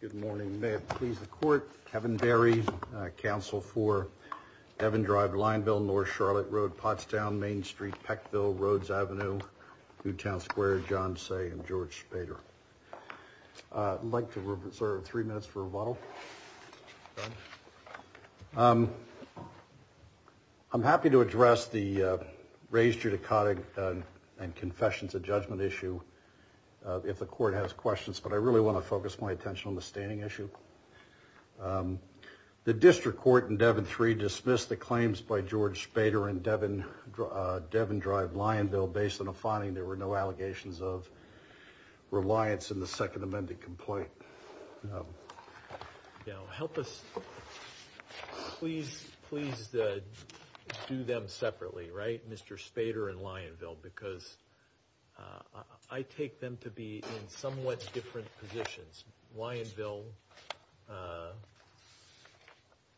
Good morning. May it please the court, Kevin Berry, counsel for Devon Drive, Lineville, North Charlotte Road, Pottstown, Main Street, Peckville, Rhodes Avenue, Newtown Square, John Say and George Spader. I'd like to reserve three minutes for rebuttal. I'm happy to address the raised judicata and confessions of judgment issue if the court has questions, but I really want to focus my attention on the standing issue. The district court in Devon 3 dismissed the claims by George Spader and Devon Drive, Lionville, based on a finding there were no allegations of reliance in the second amended complaint. Now, help us, please, please do them separately, right? Mr. Spader and Lionville, because I take them to be in somewhat different positions. Lionville,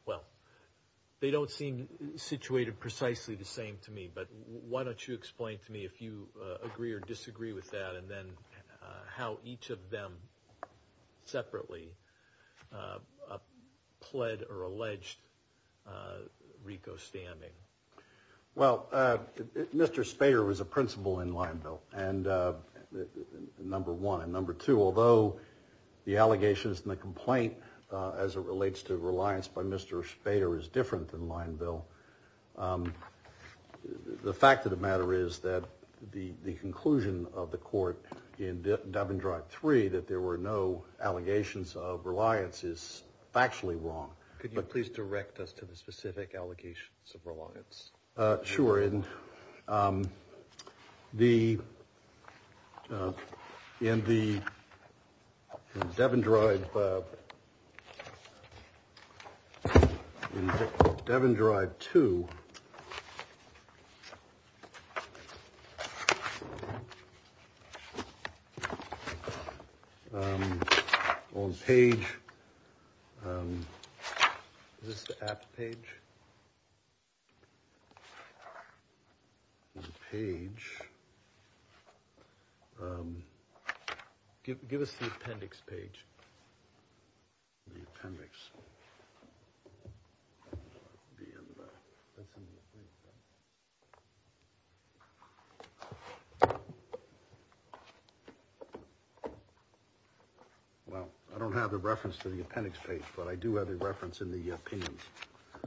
well, they don't seem situated precisely the same to me, but why don't you explain to me if you agree or disagree with that and then how each of them separately pled or alleged RICO stamming. Well, Mr. Spader was a principal in Lionville and number one and number two, although the allegations in the complaint as it relates to reliance by Mr. Spader is different than Lionville. The fact of the matter is that the conclusion of the court in Devon Drive 3 that there were no allegations of reliance is actually wrong. Could you please direct us to the specific allegations of reliance? Sure. And the in the Devon drive. Devon Drive to. On page this page. Page. Give us the appendix page. The appendix. Well, I don't have the reference to the appendix page, but I do have a reference in the opinions.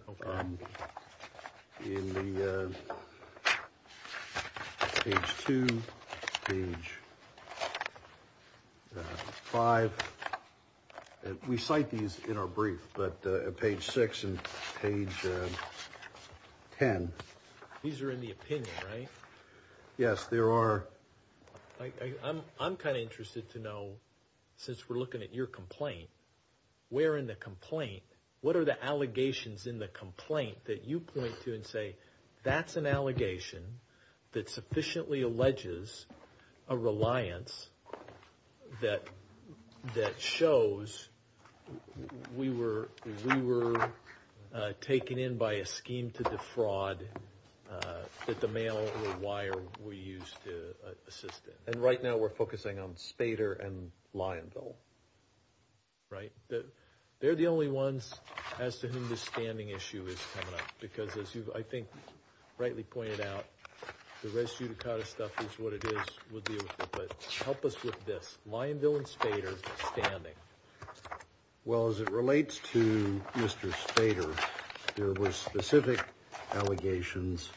OK. In the age to age five. We cite these in our brief, but page six and page 10. These are in the opinion, right? Yes, there are. I'm kind of interested to know, since we're looking at your complaint, where in the complaint, what are the allegations in the complaint that you point to and say, that's an allegation that sufficiently alleges a reliance that that shows we were we were taken in by a scheme to defraud. That the mail or wire we used to assist it. And right now we're focusing on Spader and Lionville. Right. They're the only ones as to whom the standing issue is coming up, because, as you've, I think, rightly pointed out, the rest of the kind of stuff is what it is. Help us with this. Lionville and Spader standing. Well, as it relates to Mr. Spader, there were specific allegations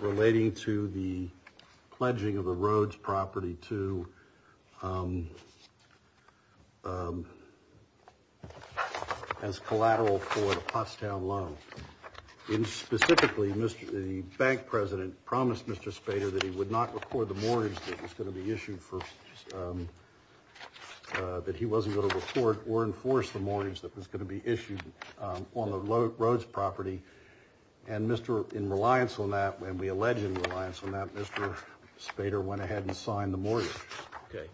relating to the pledging of the roads property to. As collateral for the Pottstown loan in specifically, Mr. The bank president promised Mr. Spader that he would not record the mortgage that was going to be issued for that. He wasn't going to report or enforce the mortgage that was going to be issued on the roads property. And Mr. In reliance on that, when we alleged reliance on that, Mr. Spader went ahead and signed the mortgage. OK,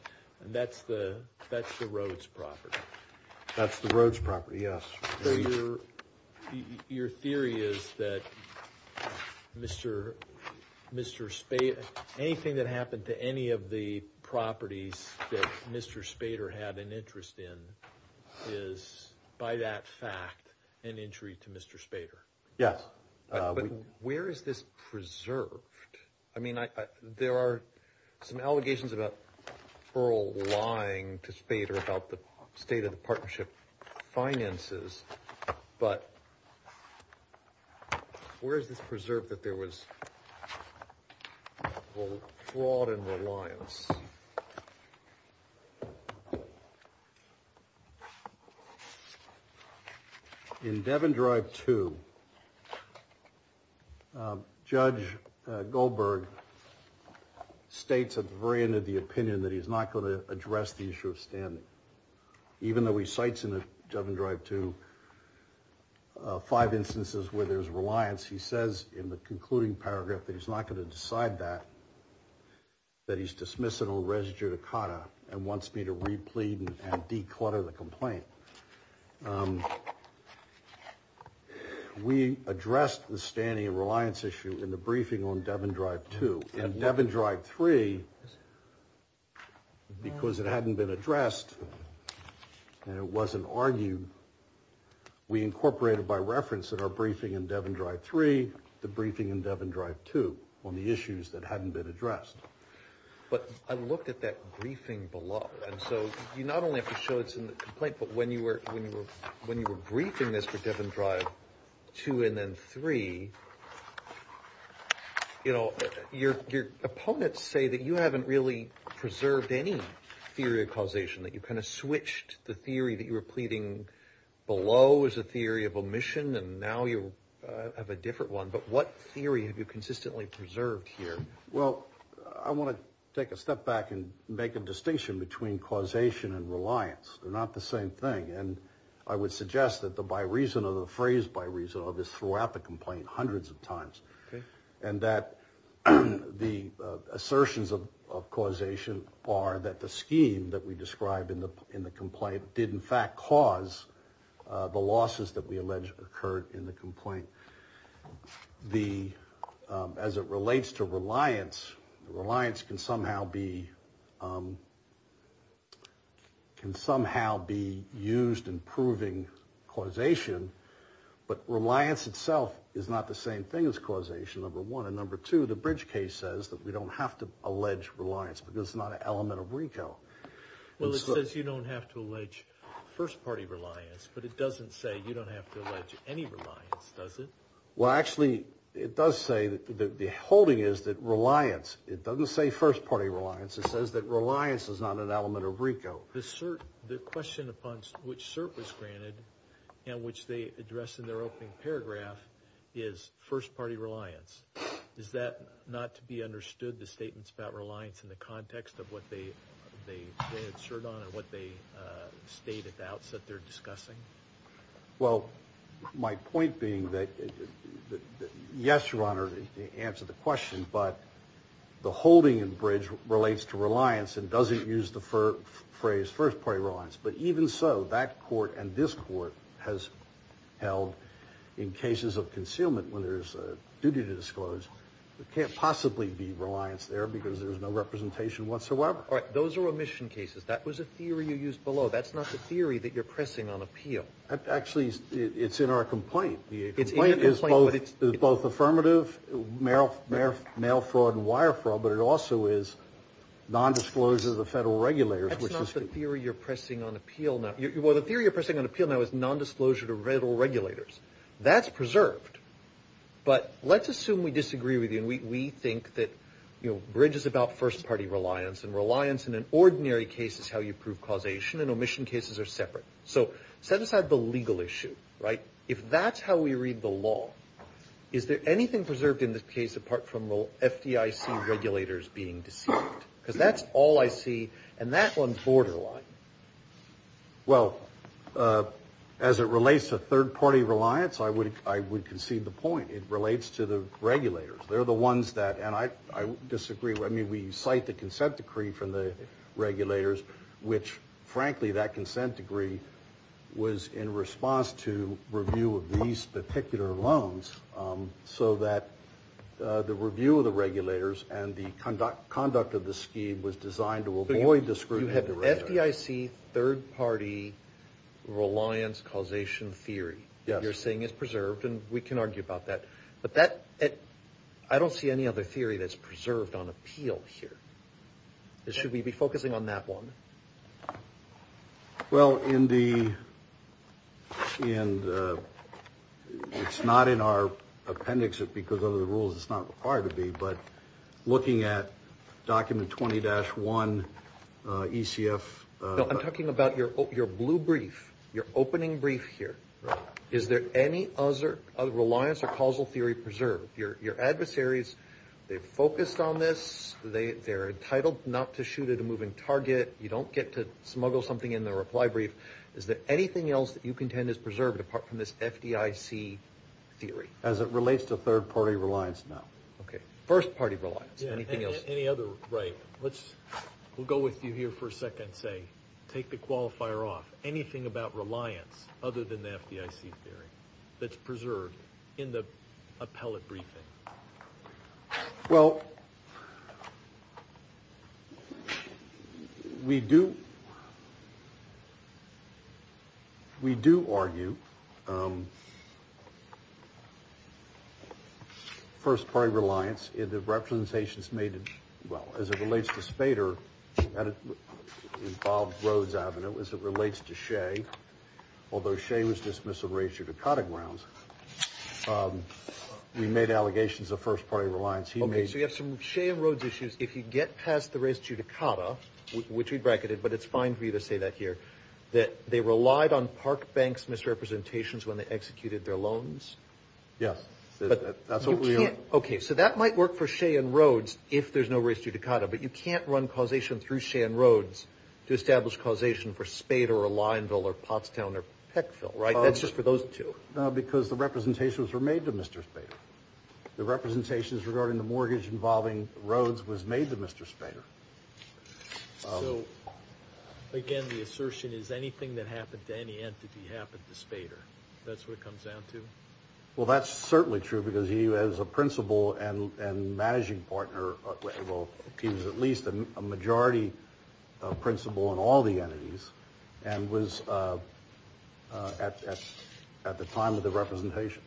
and that's the that's the roads property. That's the roads property. Yes. Your theory is that Mr. Mr. Spade, anything that happened to any of the properties that Mr. Spader had an interest in is by that fact an entry to Mr. Spader. Yes. But where is this preserved? I mean, there are some allegations about Earl lying to Spader about the state of the partnership finances. But where is this preserved that there was fraud and reliance? Yes. In Devon Drive to. Judge Goldberg states at the very end of the opinion that he's not going to address the issue of standing. Even though he cites in the Devon Drive to. Five instances where there's reliance, he says in the concluding paragraph that he's not going to decide that. That he's dismissing a res judicata and wants me to replete and declutter the complaint. We addressed the standing and reliance issue in the briefing on Devon Drive to Devon Drive three. Because it hadn't been addressed and it wasn't argued. We incorporated by reference that our briefing in Devon Drive three, the briefing in Devon Drive to on the issues that hadn't been addressed. But I looked at that briefing below. And so you not only have to show it's in the complaint, but when you were when you were when you were briefing this for Devon Drive to and then three. You know, your opponents say that you haven't really preserved any theory of causation, that you kind of switched the theory that you were pleading. Below is a theory of omission. And now you have a different one. But what theory have you consistently preserved here? Well, I want to take a step back and make a distinction between causation and reliance. They're not the same thing. And I would suggest that the by reason of the phrase by reason of this throughout the complaint hundreds of times. And that the assertions of causation are that the scheme that we describe in the in the complaint did, in fact, cause the losses that we alleged occurred in the complaint. The as it relates to reliance, reliance can somehow be. Can somehow be used in proving causation. But reliance itself is not the same thing as causation. Number one. And number two, the bridge case says that we don't have to allege reliance because it's not an element of Rico. Well, it says you don't have to allege first party reliance, but it doesn't say you don't have to allege any reliance, does it? Well, actually, it does say that the holding is that reliance. It doesn't say first party reliance. It says that reliance is not an element of Rico. The cert. The question upon which cert was granted and which they address in their opening paragraph is first party reliance. Is that not to be understood? The statements about reliance in the context of what they they they had shirt on and what they state at the outset they're discussing. Well, my point being that, yes, your Honor, to answer the question, but the holding and bridge relates to reliance and doesn't use the phrase first party reliance. But even so, that court and this court has held in cases of concealment when there's a duty to disclose. It can't possibly be reliance there because there's no representation whatsoever. All right. Those are omission cases. That was a theory you used below. That's not the theory that you're pressing on appeal. Actually, it's in our complaint. The complaint is both affirmative, male fraud and wire fraud, but it also is nondisclosure to the federal regulators. That's not the theory you're pressing on appeal. Well, the theory you're pressing on appeal now is nondisclosure to federal regulators. That's preserved. But let's assume we disagree with you and we think that bridge is about first party reliance and reliance in an ordinary case is how you prove causation. And omission cases are separate. So set aside the legal issue, right? If that's how we read the law, is there anything preserved in this case apart from the FDIC regulators being deceived? Because that's all I see, and that one's borderline. Well, as it relates to third party reliance, I would concede the point. It relates to the regulators. They're the ones that, and I disagree. I mean, we cite the consent decree from the regulators, which, frankly, that consent degree was in response to review of these particular loans so that the review of the regulators and the conduct of the scheme was designed to avoid the scrutiny of the regulators. You have FDIC third party reliance causation theory. Yes. You're saying it's preserved, and we can argue about that. But that, I don't see any other theory that's preserved on appeal here. Should we be focusing on that one? Well, in the, it's not in our appendix because of the rules, it's not required to be, but looking at document 20-1 ECF. I'm talking about your blue brief, your opening brief here. Right. Is there any other reliance or causal theory preserved? Your adversaries, they've focused on this. They're entitled not to shoot at a moving target. You don't get to smuggle something in their reply brief. Is there anything else that you contend is preserved apart from this FDIC theory? As it relates to third party reliance, no. Okay. First party reliance. Anything else? Any other, right. Let's, we'll go with you here for a second and say, take the qualifier off. Is there anything about reliance other than the FDIC theory that's preserved in the appellate briefing? Well, we do, we do argue first party reliance in the representations made, well, as it relates to Spader, involved Rhodes Avenue, as it relates to Shea, although Shea was dismissed of race judicata grounds. We made allegations of first party reliance. Okay, so you have some Shea and Rhodes issues. If you get past the race judicata, which we bracketed, but it's fine for you to say that here, that they relied on Park Bank's misrepresentations when they executed their loans? Yes. That's what we are. Okay. So that might work for Shea and Rhodes if there's no race judicata, but you can't run causation through Shea and Rhodes to establish causation for Spader or Lyonville or Pottstown or Peckville, right? That's just for those two. No, because the representations were made to Mr. Spader. The representations regarding the mortgage involving Rhodes was made to Mr. Spader. So, again, the assertion is anything that happened to any entity happened to Spader. That's what it comes down to? Well, that's certainly true because he was a principal and managing partner. Well, he was at least a majority principal in all the entities and was at the time of the representations.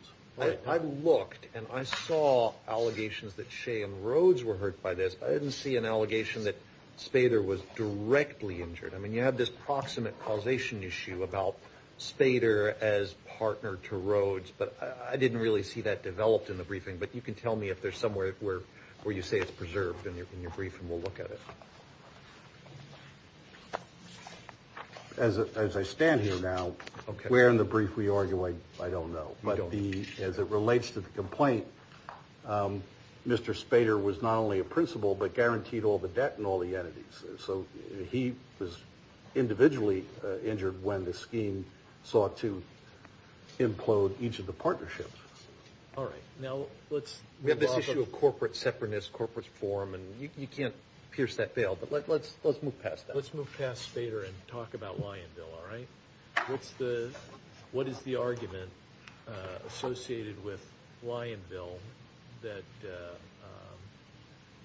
I looked and I saw allegations that Shea and Rhodes were hurt by this. I didn't see an allegation that Spader was directly injured. I mean, you have this proximate causation issue about Spader as partner to Rhodes, but I didn't really see that developed in the briefing. But you can tell me if there's somewhere where you say it's preserved in your briefing. We'll look at it. As I stand here now, where in the brief we argue, I don't know. But as it relates to the complaint, Mr. Spader was not only a principal but guaranteed all the debt in all the entities. So he was individually injured when the scheme sought to implode each of the partnerships. All right. Now let's move on. We have this issue of corporate separatist, corporate forum, and you can't pierce that veil. But let's move past that. Let's move past Spader and talk about Lyonville, all right? What is the argument associated with Lyonville that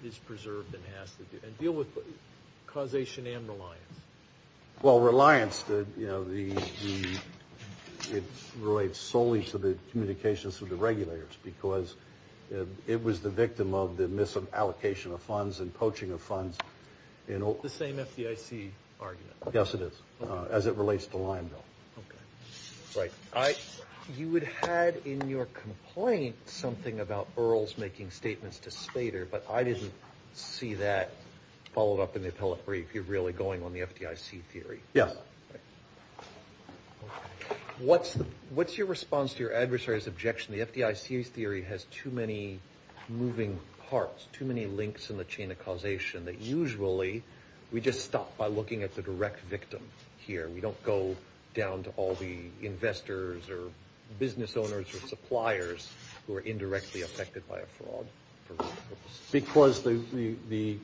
is preserved and has to deal with causation and reliance? Well, reliance, you know, it relates solely to the communications with the regulators because it was the victim of the misallocation of funds and poaching of funds. The same FDIC argument. Yes, it is, as it relates to Lyonville. Right. You had in your complaint something about Earls making statements to Spader, but I didn't see that followed up in the appellate brief. You're really going on the FDIC theory. Yes. What's your response to your adversary's objection? The FDIC's theory has too many moving parts, too many links in the chain of causation, that usually we just stop by looking at the direct victim here. We don't go down to all the investors or business owners or suppliers who are indirectly affected by a fraud. Because the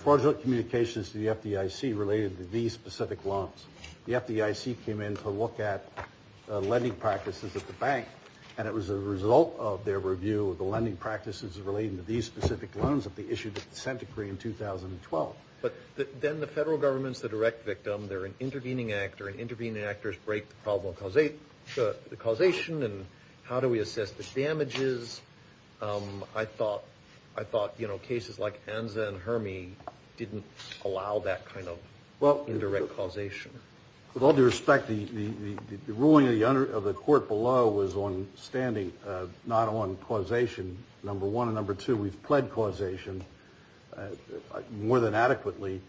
fraudulent communications to the FDIC related to these specific loans. The FDIC came in to look at lending practices at the bank, and it was a result of their review of the lending practices relating to these specific loans that they issued a dissent decree in 2012. But then the federal government's the direct victim. They're an intervening actor, and intervening actors break the problem of causation, and how do we assess the damages? I thought cases like Anza and Herme didn't allow that kind of indirect causation. With all due respect, the ruling of the court below was on standing, not on causation, number one. Number two, we've pled causation more than adequately,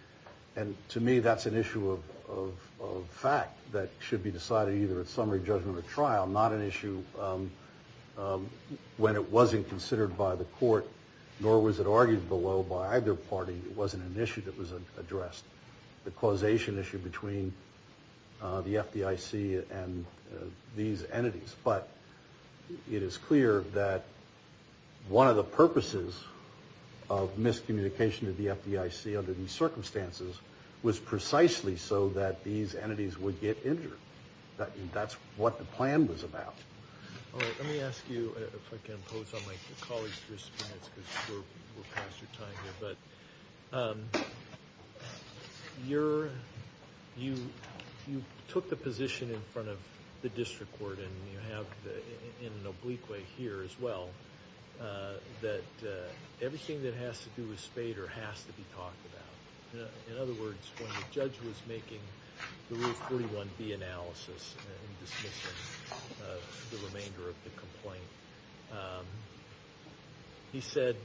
and to me that's an issue of fact that should be decided either at summary judgment or trial, not an issue when it wasn't considered by the court, nor was it argued below by either party. It wasn't an issue that was addressed, the causation issue between the FDIC and these entities. But it is clear that one of the purposes of miscommunication to the FDIC under these circumstances was precisely so that these entities would get injured. That's what the plan was about. Let me ask you, if I can impose on my colleagues, because we're past your time here, but you took the position in front of the district court, and you have it in an oblique way here as well, that everything that has to do with Spader has to be talked about. In other words, when the judge was making the Rule 41B analysis and dismissing the remainder of the complaint, he said,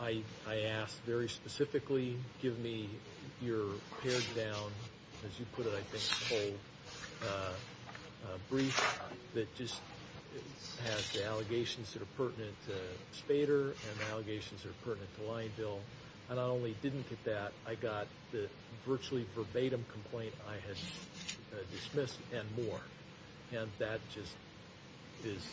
I asked very specifically, give me your pared down, as you put it, I think, whole brief that just has the allegations that are pertinent to Spader and the allegations that are pertinent to Lyonville. And I not only didn't get that, I got the virtually verbatim complaint I had dismissed and more. And that just is,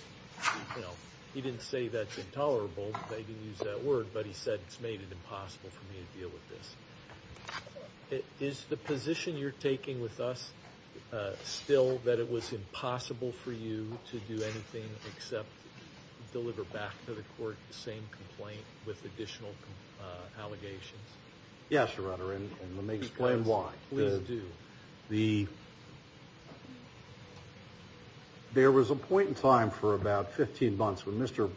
you know, he didn't say that's intolerable. They didn't use that word, but he said it's made it impossible for me to deal with this. Is the position you're taking with us still that it was impossible for you to do anything except deliver back to the court the same complaint with additional allegations? Yes, Your Honor, and let me explain why. Please do. There was a point in time for about 15 months when Mr.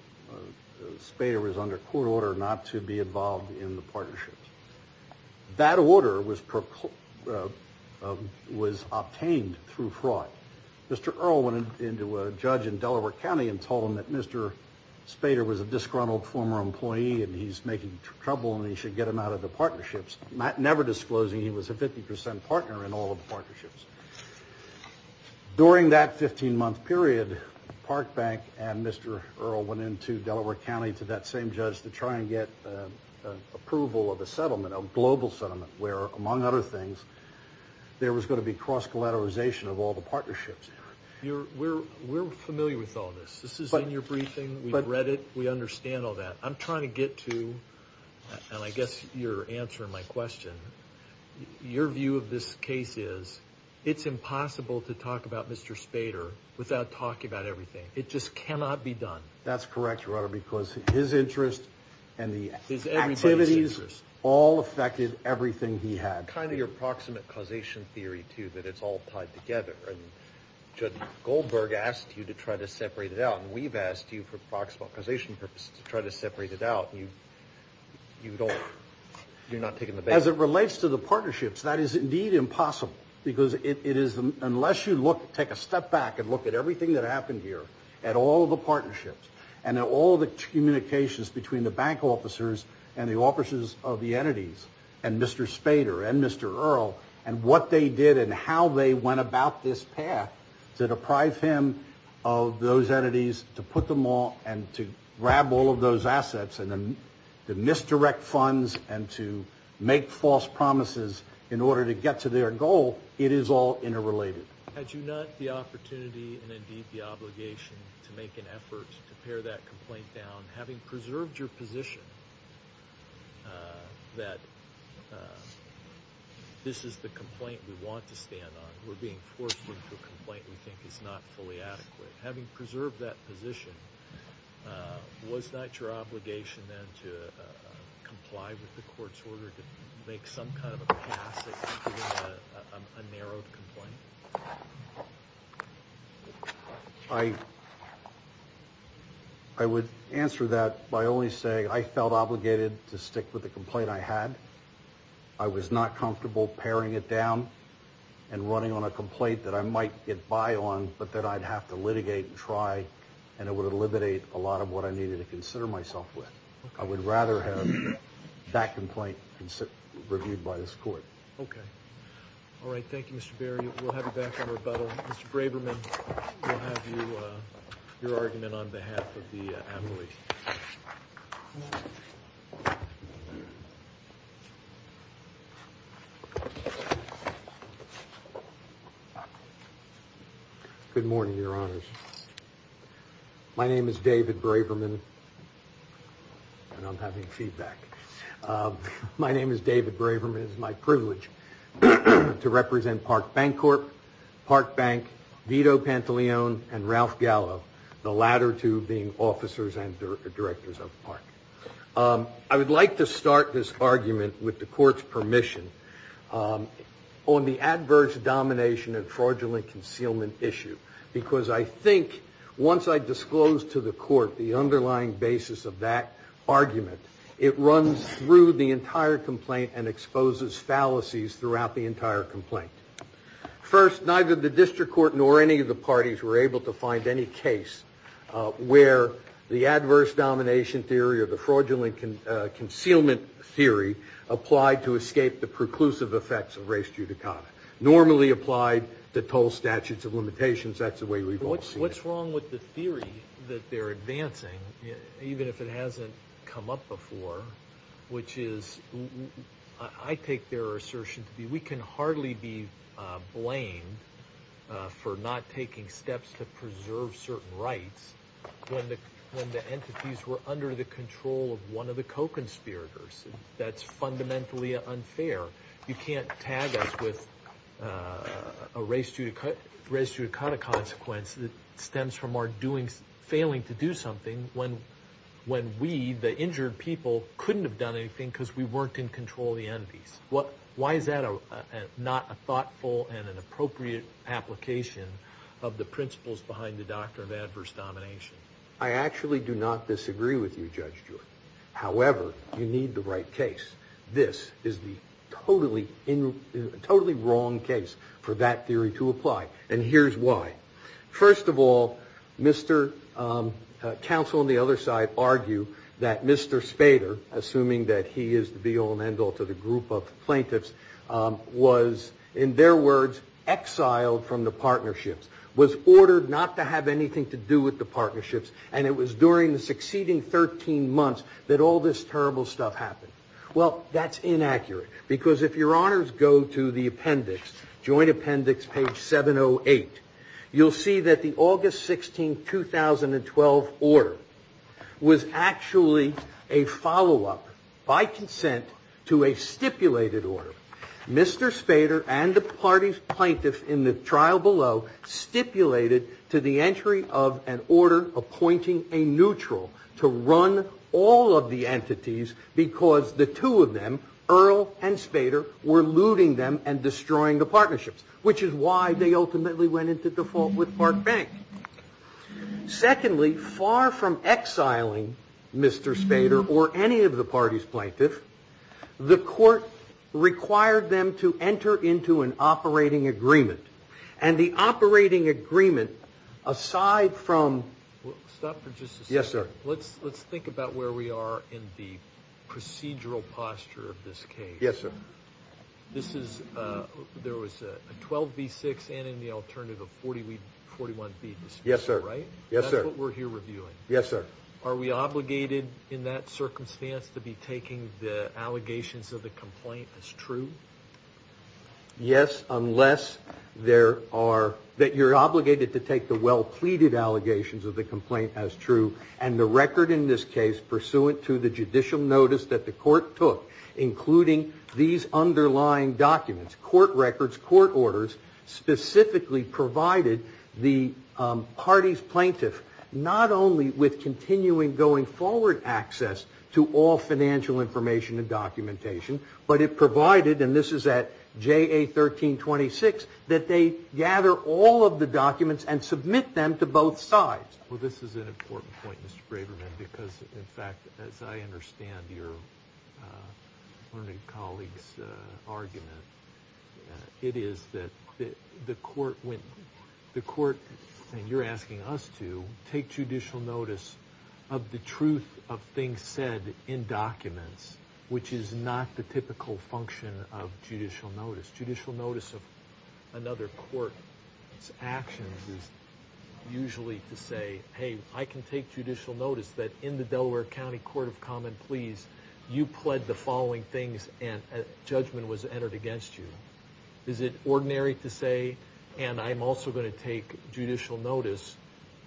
Spader was under court order not to be involved in the partnership. That order was obtained through fraud. Mr. Earle went into a judge in Delaware County and told him that Mr. Spader was a disgruntled former employee and he's making trouble and he should get him out of the partnerships, never disclosing he was a 50% partner in all of the partnerships. During that 15-month period, Park Bank and Mr. Earle went into Delaware County to that same judge to try and get approval of a settlement, a global settlement, where, among other things, there was going to be cross-collateralization of all the partnerships. We're familiar with all this. This is in your briefing. We've read it. We understand all that. I'm trying to get to, and I guess you're answering my question, your view of this case is it's impossible to talk about Mr. Spader without talking about everything. It just cannot be done. That's correct, Your Honor, because his interest and the activities all affected everything he had. Kind of your proximate causation theory, too, that it's all tied together. Judge Goldberg asked you to try to separate it out, and we've asked you for proximate causation purposes to try to separate it out, and you're not taking the bait. As it relates to the partnerships, that is indeed impossible, because unless you take a step back and look at everything that happened here, at all the partnerships and at all the communications between the bank officers and the officers of the entities and Mr. Spader and Mr. Earle and what they did and how they went about this path to deprive him of those entities, to put them all and to grab all of those assets and to misdirect funds and to make false promises in order to get to their goal, it is all interrelated. Had you not the opportunity and indeed the obligation to make an effort to pare that complaint down, having preserved your position that this is the complaint we want to stand on, we're being forced into a complaint we think is not fully adequate, having preserved that position, was that your obligation then to comply with the court's order to make some kind of a pass at getting a narrowed complaint? I would answer that by only saying I felt obligated to stick with the complaint I had. I was not comfortable paring it down and running on a complaint that I might get by on, but that I'd have to litigate and try and it would eliminate a lot of what I needed to consider myself with. I would rather have that complaint reviewed by this court. Okay. All right. Thank you, Mr. Berry. We'll have you back on rebuttal. Mr. Braverman, we'll have your argument on behalf of the amulet. Good morning, Your Honors. My name is David Braverman, and I'm having feedback. My name is David Braverman. It is my privilege to represent Park Bank Corp., Park Bank, Vito Pantaleon, and Ralph Gallo, the latter two being officers and directors of Park. I would like to start this argument with the court's permission on the adverse domination and fraudulent concealment issue, because I think once I disclose to the court the underlying basis of that argument, it runs through the entire complaint and exposes fallacies throughout the entire complaint. First, neither the district court nor any of the parties were able to find any case where the adverse domination theory or the fraudulent concealment theory applied to escape the preclusive effects of res judicata. Normally applied to toll statutes of limitations. That's the way we've all seen it. What's wrong with the theory that they're advancing, even if it hasn't come up before, which is, I take their assertion to be we can hardly be blamed for not taking steps to preserve certain rights when the entities were under the control of one of the co-conspirators. That's fundamentally unfair. You can't tag us with a res judicata consequence that stems from our failing to do something when we, the injured people, couldn't have done anything because we weren't in control of the entities. Why is that not a thoughtful and an appropriate application of the principles behind the doctrine of adverse domination? I actually do not disagree with you, Judge Joy. However, you need the right case. This is the totally wrong case for that theory to apply, and here's why. First of all, counsel on the other side argue that Mr. Spader, assuming that he is the be all and end all to the group of plaintiffs, was, in their words, exiled from the partnerships, was ordered not to have anything to do with the partnerships, and it was during the succeeding 13 months that all this terrible stuff happened. Well, that's inaccurate, because if your honors go to the appendix, Joint Appendix, page 708, you'll see that the August 16, 2012 order was actually a follow-up, by consent, to a stipulated order. Mr. Spader and the party's plaintiff in the trial below stipulated to the entry of an order appointing a neutral to run all of the entities because the two of them, Earle and Spader, were looting them and destroying the partnerships, which is why they ultimately went into default with Park Bank. Secondly, far from exiling Mr. Spader or any of the party's plaintiff, the court required them to enter into an operating agreement, and the operating agreement, aside from... Stop for just a second. Yes, sir. Let's think about where we are in the procedural posture of this case. Yes, sir. There was a 12B6 and an alternative of 41B. Yes, sir. Right? Yes, sir. That's what we're here reviewing. Yes, sir. Are we obligated in that circumstance to be taking the allegations of the complaint as true? Yes, unless you're obligated to take the well-pleaded allegations of the complaint as true, and the record in this case pursuant to the judicial notice that the court took, including these underlying documents, court records, court orders, specifically provided the party's plaintiff not only with continuing going forward access to all financial information and documentation, but it provided, and this is at JA1326, that they gather all of the documents and submit them to both sides. Well, this is an important point, Mr. Braverman, because, in fact, as I understand your learned colleague's argument, it is that the court, and you're asking us to, take judicial notice of the truth of things said in documents, which is not the typical function of judicial notice. Judicial notice of another court's actions is usually to say, hey, I can take judicial notice that in the Delaware County Court of Common Pleas, you pled the following things and judgment was entered against you. Is it ordinary to say, and I'm also going to take judicial notice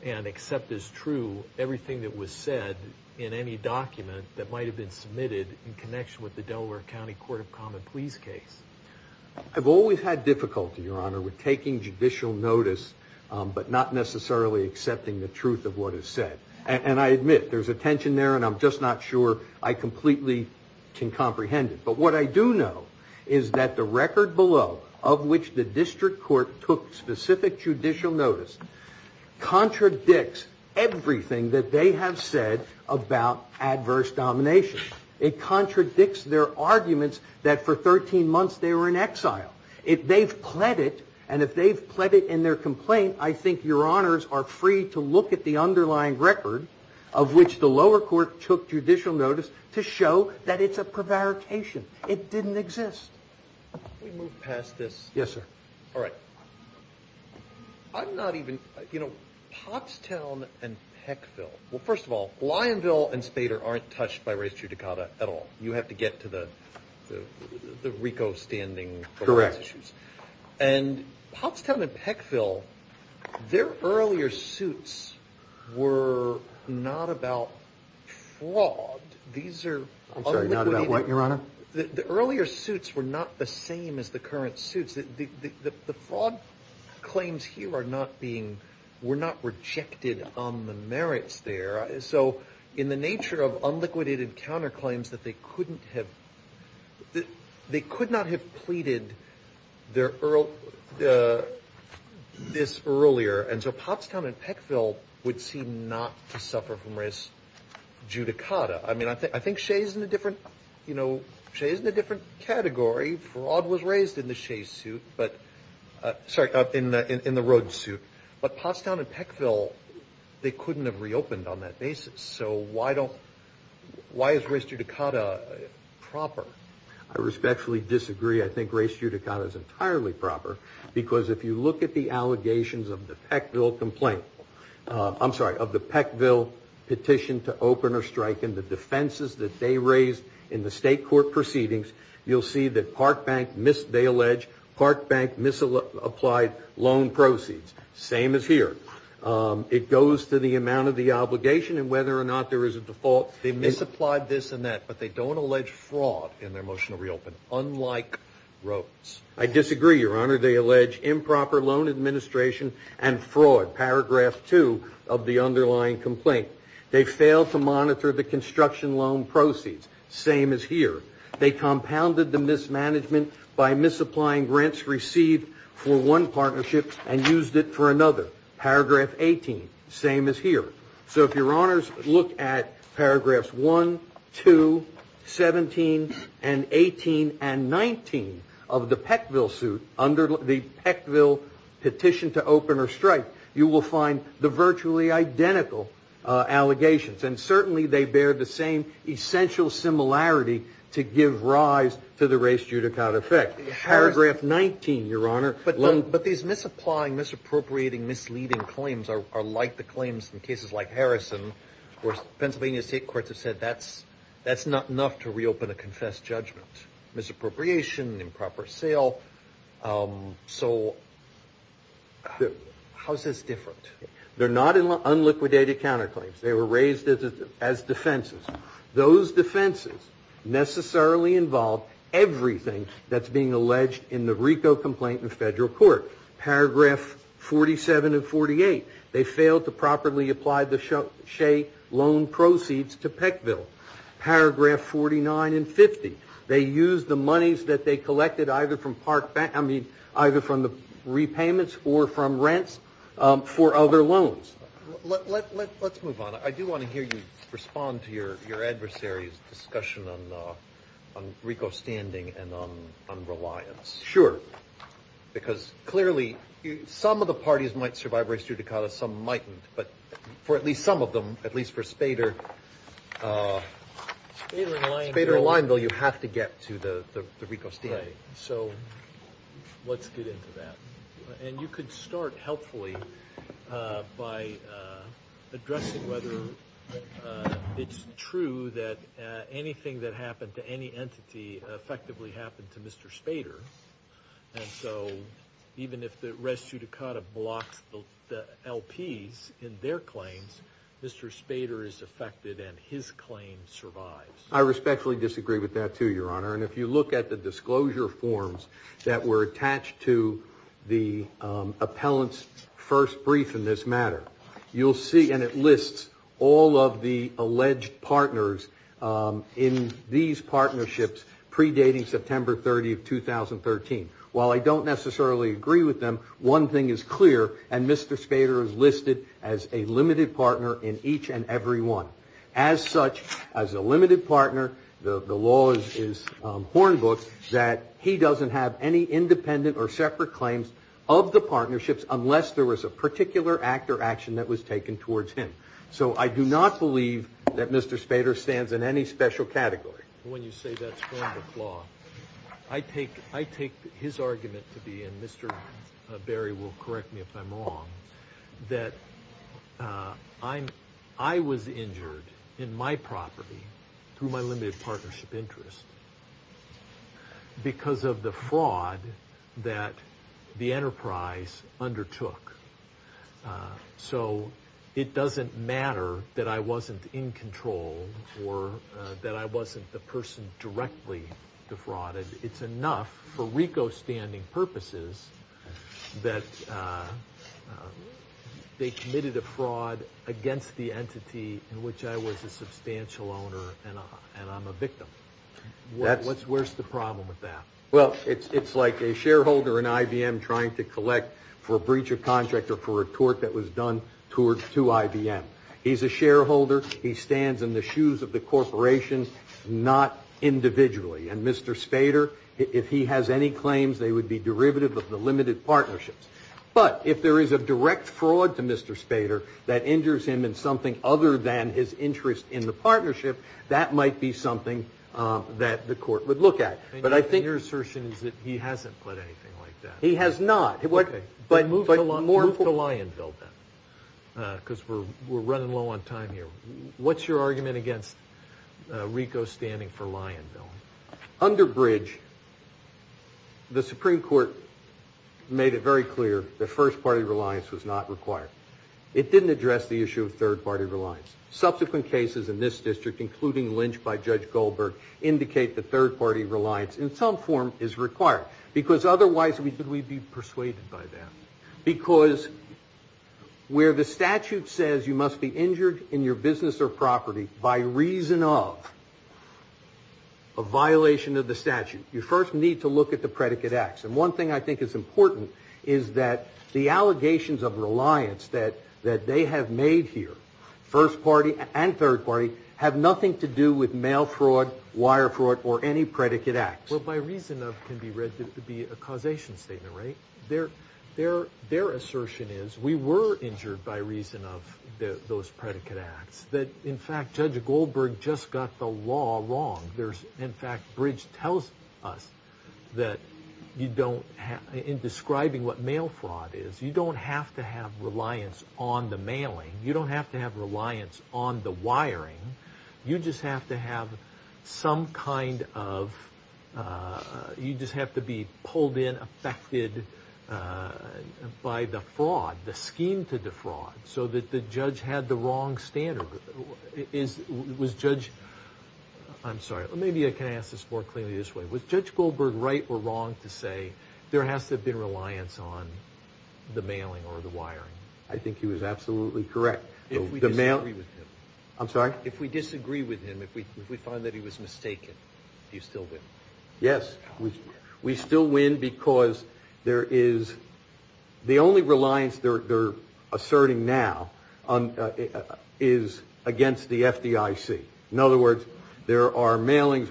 and accept as true everything that was said in any document that might have been submitted in connection with the Delaware County Court of Common Pleas case? I've always had difficulty, Your Honor, with taking judicial notice, but not necessarily accepting the truth of what is said. And I admit, there's a tension there, and I'm just not sure I completely can comprehend it. But what I do know is that the record below, of which the district court took specific judicial notice, contradicts everything that they have said about adverse domination. It contradicts their arguments that for 13 months they were in exile. If they've pled it, and if they've pled it in their complaint, I think Your Honors are free to look at the underlying record of which the lower court took judicial notice to show that it's a prevarication. It didn't exist. Let me move past this. Yes, sir. All right. I'm not even, you know, Pottstown and Peckville. Well, first of all, Lyonville and Spader aren't touched by race judicata at all. You have to get to the RICO standing for race issues. And Pottstown and Peckville, their earlier suits were not about fraud. I'm sorry, not about what, Your Honor? The earlier suits were not the same as the current suits. The fraud claims here are not being, were not rejected on the merits there. So in the nature of unliquidated counterclaims that they couldn't have, they could not have pleaded this earlier, and so Pottstown and Peckville would seem not to suffer from race judicata. I mean, I think Shea's in a different, you know, the fraud was raised in the Shea suit, but, sorry, in the Rhodes suit. But Pottstown and Peckville, they couldn't have reopened on that basis. So why don't, why is race judicata proper? I respectfully disagree. I think race judicata is entirely proper, because if you look at the allegations of the Peckville complaint, I'm sorry, of the Peckville petition to open or strike, and the defenses that they raised in the state court proceedings, you'll see that Park Bank, they allege, Park Bank misapplied loan proceeds. Same as here. It goes to the amount of the obligation and whether or not there is a default. They misapplied this and that, but they don't allege fraud in their motion to reopen, unlike Rhodes. I disagree, Your Honor. They allege improper loan administration and fraud, paragraph two of the underlying complaint. They failed to monitor the construction loan proceeds. Same as here. They compounded the mismanagement by misapplying grants received for one partnership and used it for another, paragraph 18. Same as here. So if Your Honors look at paragraphs 1, 2, 17, and 18, and 19 of the Peckville suit, under the Peckville petition to open or strike, you will find the virtually identical allegations. And certainly they bear the same essential similarity to give rise to the race judicata effect. Paragraph 19, Your Honor. But these misapplying, misappropriating, misleading claims are like the claims in cases like Harrison, where Pennsylvania state courts have said that's not enough to reopen a confessed judgment. Misappropriation, improper sale. So how is this different? They're not unliquidated counterclaims. They were raised as defenses. Those defenses necessarily involve everything that's being alleged in the RICO complaint in federal court. Paragraph 47 and 48, they failed to properly apply the Shea loan proceeds to Peckville. Paragraph 49 and 50, they used the monies that they collected either from the repayments or from rents for other loans. Let's move on. I do want to hear you respond to your adversary's discussion on RICO standing and on reliance. Sure. Because clearly some of the parties might survive race judicata, some mightn't. But for at least some of them, at least for Spader and Lineville, you have to get to the RICO standing. Right. So let's get into that. And you could start helpfully by addressing whether it's true that anything that happened to any entity effectively happened to Mr. Spader. And so even if the race judicata blocks the LPs in their claims, Mr. Spader is affected and his claim survives. I respectfully disagree with that too, Your Honor. And if you look at the disclosure forms that were attached to the appellant's first brief in this matter, you'll see and it lists all of the alleged partners in these partnerships predating September 30, 2013. While I don't necessarily agree with them, one thing is clear. And Mr. Spader is listed as a limited partner in each and every one. As such, as a limited partner, the law is hornbooked that he doesn't have any independent or separate claims of the partnerships unless there was a particular act or action that was taken towards him. So I do not believe that Mr. Spader stands in any special category. When you say that's hornbooked law, I take his argument to be, and Mr. Berry will correct me if I'm wrong, that I was injured in my property through my limited partnership interest because of the fraud that the enterprise undertook. So it doesn't matter that I wasn't in control or that I wasn't the person directly defrauded. It's enough for RICO standing purposes that they committed a fraud against the entity in which I was a substantial owner and I'm a victim. Where's the problem with that? Well, it's like a shareholder in IBM trying to collect for a breach of contract or for a tort that was done to IBM. He's a shareholder. He stands in the shoes of the corporation, not individually. And Mr. Spader, if he has any claims, they would be derivative of the limited partnerships. But if there is a direct fraud to Mr. Spader that injures him in something other than his interest in the partnership, that might be something that the court would look at. But I think your assertion is that he hasn't put anything like that. He has not. Okay. But move to Lionville then because we're running low on time here. What's your argument against RICO standing for Lionville? Under Bridge, the Supreme Court made it very clear that first-party reliance was not required. It didn't address the issue of third-party reliance. Subsequent cases in this district, including Lynch by Judge Goldberg, indicate that third-party reliance in some form is required because otherwise we'd be persuaded by that. Because where the statute says you must be injured in your business or property by reason of a violation of the statute, you first need to look at the predicate acts. And one thing I think is important is that the allegations of reliance that they have made here, first-party and third-party, have nothing to do with mail fraud, wire fraud, or any predicate acts. Well, by reason of can be read to be a causation statement, right? Their assertion is we were injured by reason of those predicate acts. In fact, Judge Goldberg just got the law wrong. In fact, Bridge tells us that in describing what mail fraud is, you don't have to have reliance on the mailing. You don't have to have reliance on the wiring. You just have to have some kind of – you just have to be pulled in, affected by the fraud, the scheme to defraud, so that the judge had the wrong standard. Was Judge – I'm sorry, maybe I can ask this more clearly this way. Was Judge Goldberg right or wrong to say there has to have been reliance on the mailing or the wiring? I think he was absolutely correct. If we disagree with him, if we find that he was mistaken, do you still win? Yes, we still win because there is – the only reliance they're asserting now is against the FDIC. In other words, there are mailings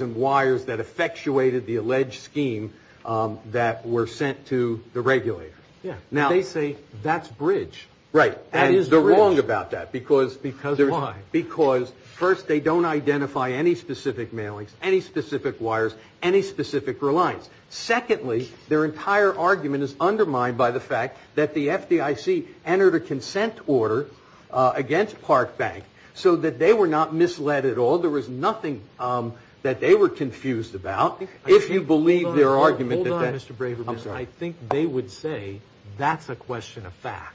and wires that effectuated the alleged scheme that were sent to the regulator. They say that's Bridge. Right. That is Bridge. And they're wrong about that because – Because why? Because, first, they don't identify any specific mailings, any specific wires, any specific reliance. Secondly, their entire argument is undermined by the fact that the FDIC entered a consent order against Park Bank so that they were not misled at all. There was nothing that they were confused about. If you believe their argument – Hold on, Mr. Braverman. I'm sorry. They would say that's a question of fact.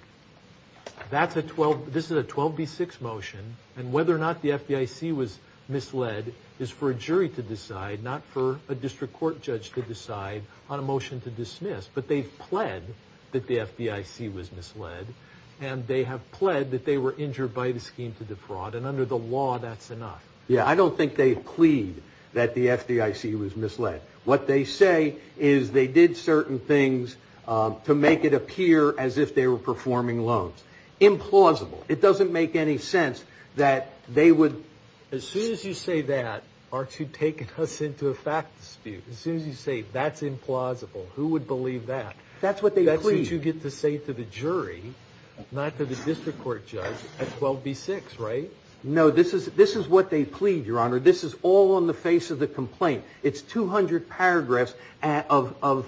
This is a 12B6 motion, and whether or not the FDIC was misled is for a jury to decide, not for a district court judge to decide on a motion to dismiss. But they've pled that the FDIC was misled, and they have pled that they were injured by the scheme to defraud. And under the law, that's enough. Yeah, I don't think they've plead that the FDIC was misled. What they say is they did certain things to make it appear as if they were performing loans. Implausible. It doesn't make any sense that they would – As soon as you say that, aren't you taking us into a fact dispute? As soon as you say that's implausible, who would believe that? That's what they plead. That's what you get to say to the jury, not to the district court judge, at 12B6, right? No, this is what they plead, Your Honor. This is all on the face of the complaint. It's 200 paragraphs of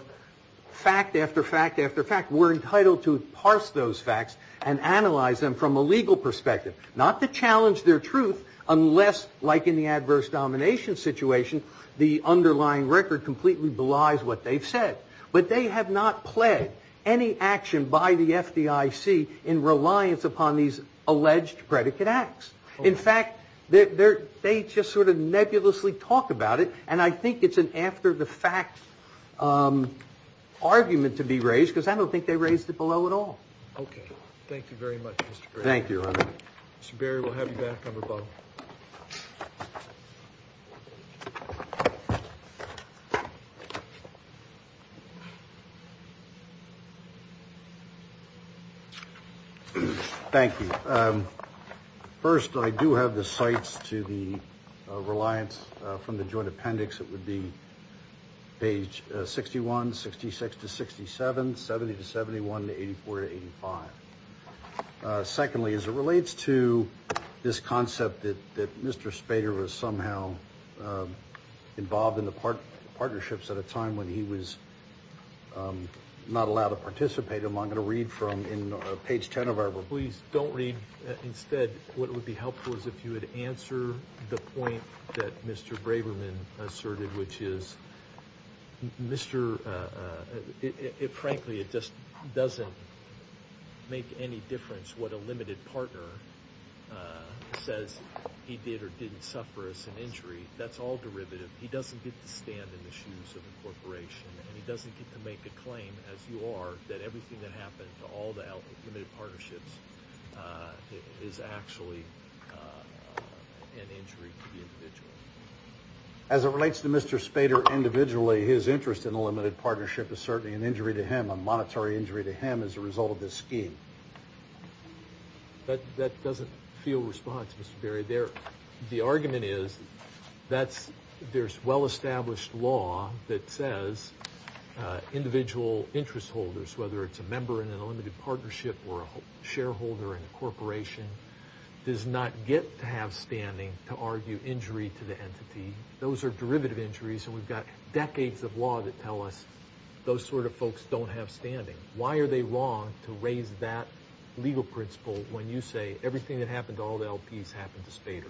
fact after fact after fact. We're entitled to parse those facts and analyze them from a legal perspective, not to challenge their truth unless, like in the adverse domination situation, the underlying record completely belies what they've said. But they have not pled any action by the FDIC in reliance upon these alleged predicate acts. In fact, they just sort of nebulously talk about it, and I think it's an after-the-fact argument to be raised because I don't think they raised it below at all. Okay. Thank you very much, Mr. Berry. Thank you, Your Honor. Mr. Berry, we'll have you back on the phone. Thank you. First, I do have the cites to the reliance from the joint appendix. It would be page 61, 66 to 67, 70 to 71, 84 to 85. Secondly, as it relates to this concept that Mr. Spader was somehow involved in the partnerships at a time when he was not allowed to participate in them, I'm going to read from page 10 of our report. Please don't read. Instead, what would be helpful is if you would answer the point that Mr. Braberman asserted, which is, frankly, it just doesn't make any difference what a limited partner says he did or didn't suffer as an injury. That's all derivative. He doesn't get to stand in the shoes of a corporation, and he doesn't get to make a claim, as you are, that everything that happened to all the limited partnerships is actually an injury to the individual. As it relates to Mr. Spader individually, his interest in a limited partnership is certainly an injury to him, a monetary injury to him as a result of this scheme. The argument is there's well-established law that says individual interest holders, whether it's a member in a limited partnership or a shareholder in a corporation, does not get to have standing to argue injury to the entity. Those are derivative injuries, and we've got decades of law that tell us those sort of folks don't have standing. Why are they wrong to raise that legal principle when you say everything that happened to all the LPs happened to Spader?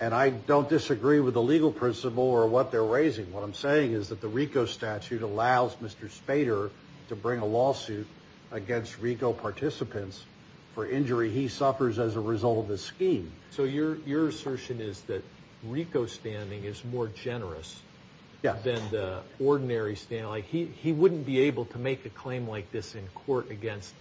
And I don't disagree with the legal principle or what they're raising. What I'm saying is that the RICO statute allows Mr. Spader to bring a lawsuit against RICO participants for injury he suffers as a result of this scheme. So your assertion is that RICO standing is more generous than the ordinary standing. Like, he wouldn't be able to make a claim like this in court against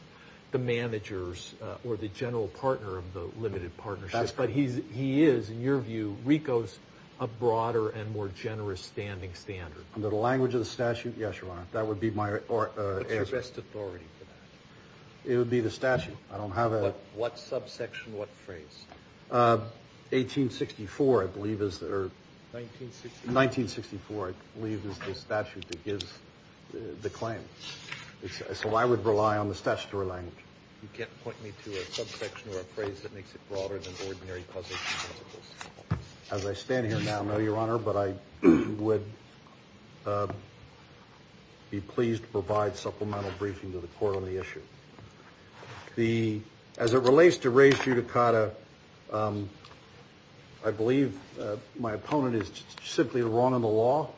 the managers or the general partner of the limited partnership. But he is, in your view, RICO's a broader and more generous standing standard. Under the language of the statute, yes, Your Honor. That would be my answer. What's your best authority for that? It would be the statute. I don't have a... What subsection? What phrase? 1864, I believe, is the... 1964. 1964, I believe, is the statute that gives the claim. So I would rely on the statutory language. You can't point me to a subsection or a phrase that makes it broader than ordinary position principles. As I stand here now, no, Your Honor, but I would be pleased to provide supplemental briefing to the court on the issue. As it relates to reis judicata, I believe my opponent is simply wrong in the law.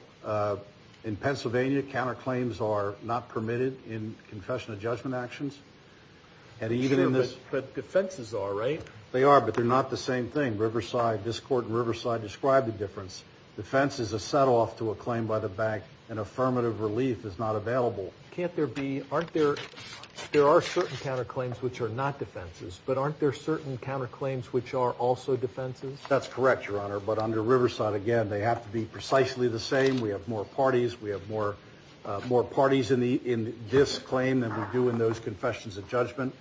In Pennsylvania, counterclaims are not permitted in confession of judgment actions. But defenses are, right? They are, but they're not the same thing. Riverside, this court in Riverside, described the difference. Defense is a set-off to a claim by the bank, and affirmative relief is not available. Can't there be... Aren't there... There are certain counterclaims which are not defenses, but aren't there certain counterclaims which are also defenses? That's correct, Your Honor, but under Riverside, again, they have to be precisely the same. We have more parties. We have more parties in this claim than we do in those confessions of judgment.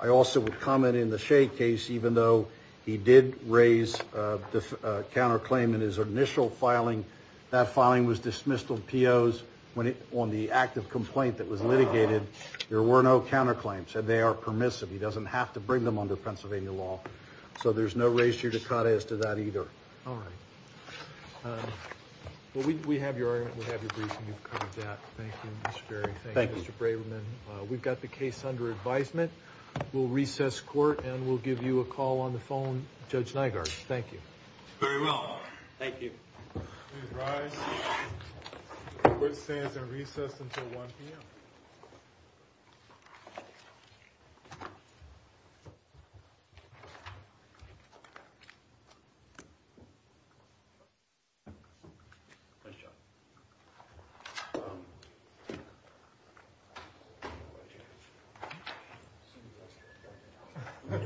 I also would comment in the Shea case, even though he did raise a counterclaim in his initial filing, that filing was dismissed of POs on the active complaint that was litigated. There were no counterclaims, and they are permissive. He doesn't have to bring them under Pennsylvania law. So there's no reis judicata as to that either. All right. Well, we have your brief, and you've covered that. Thank you, Mr. Ferry. Thank you, Mr. Braverman. We've got the case under advisement. We'll recess court, and we'll give you a call on the phone, Judge Nygaard. Thank you. Very well. Thank you. Please rise. Court stands in recess until 1 p.m. 1 p.m. 1 p.m.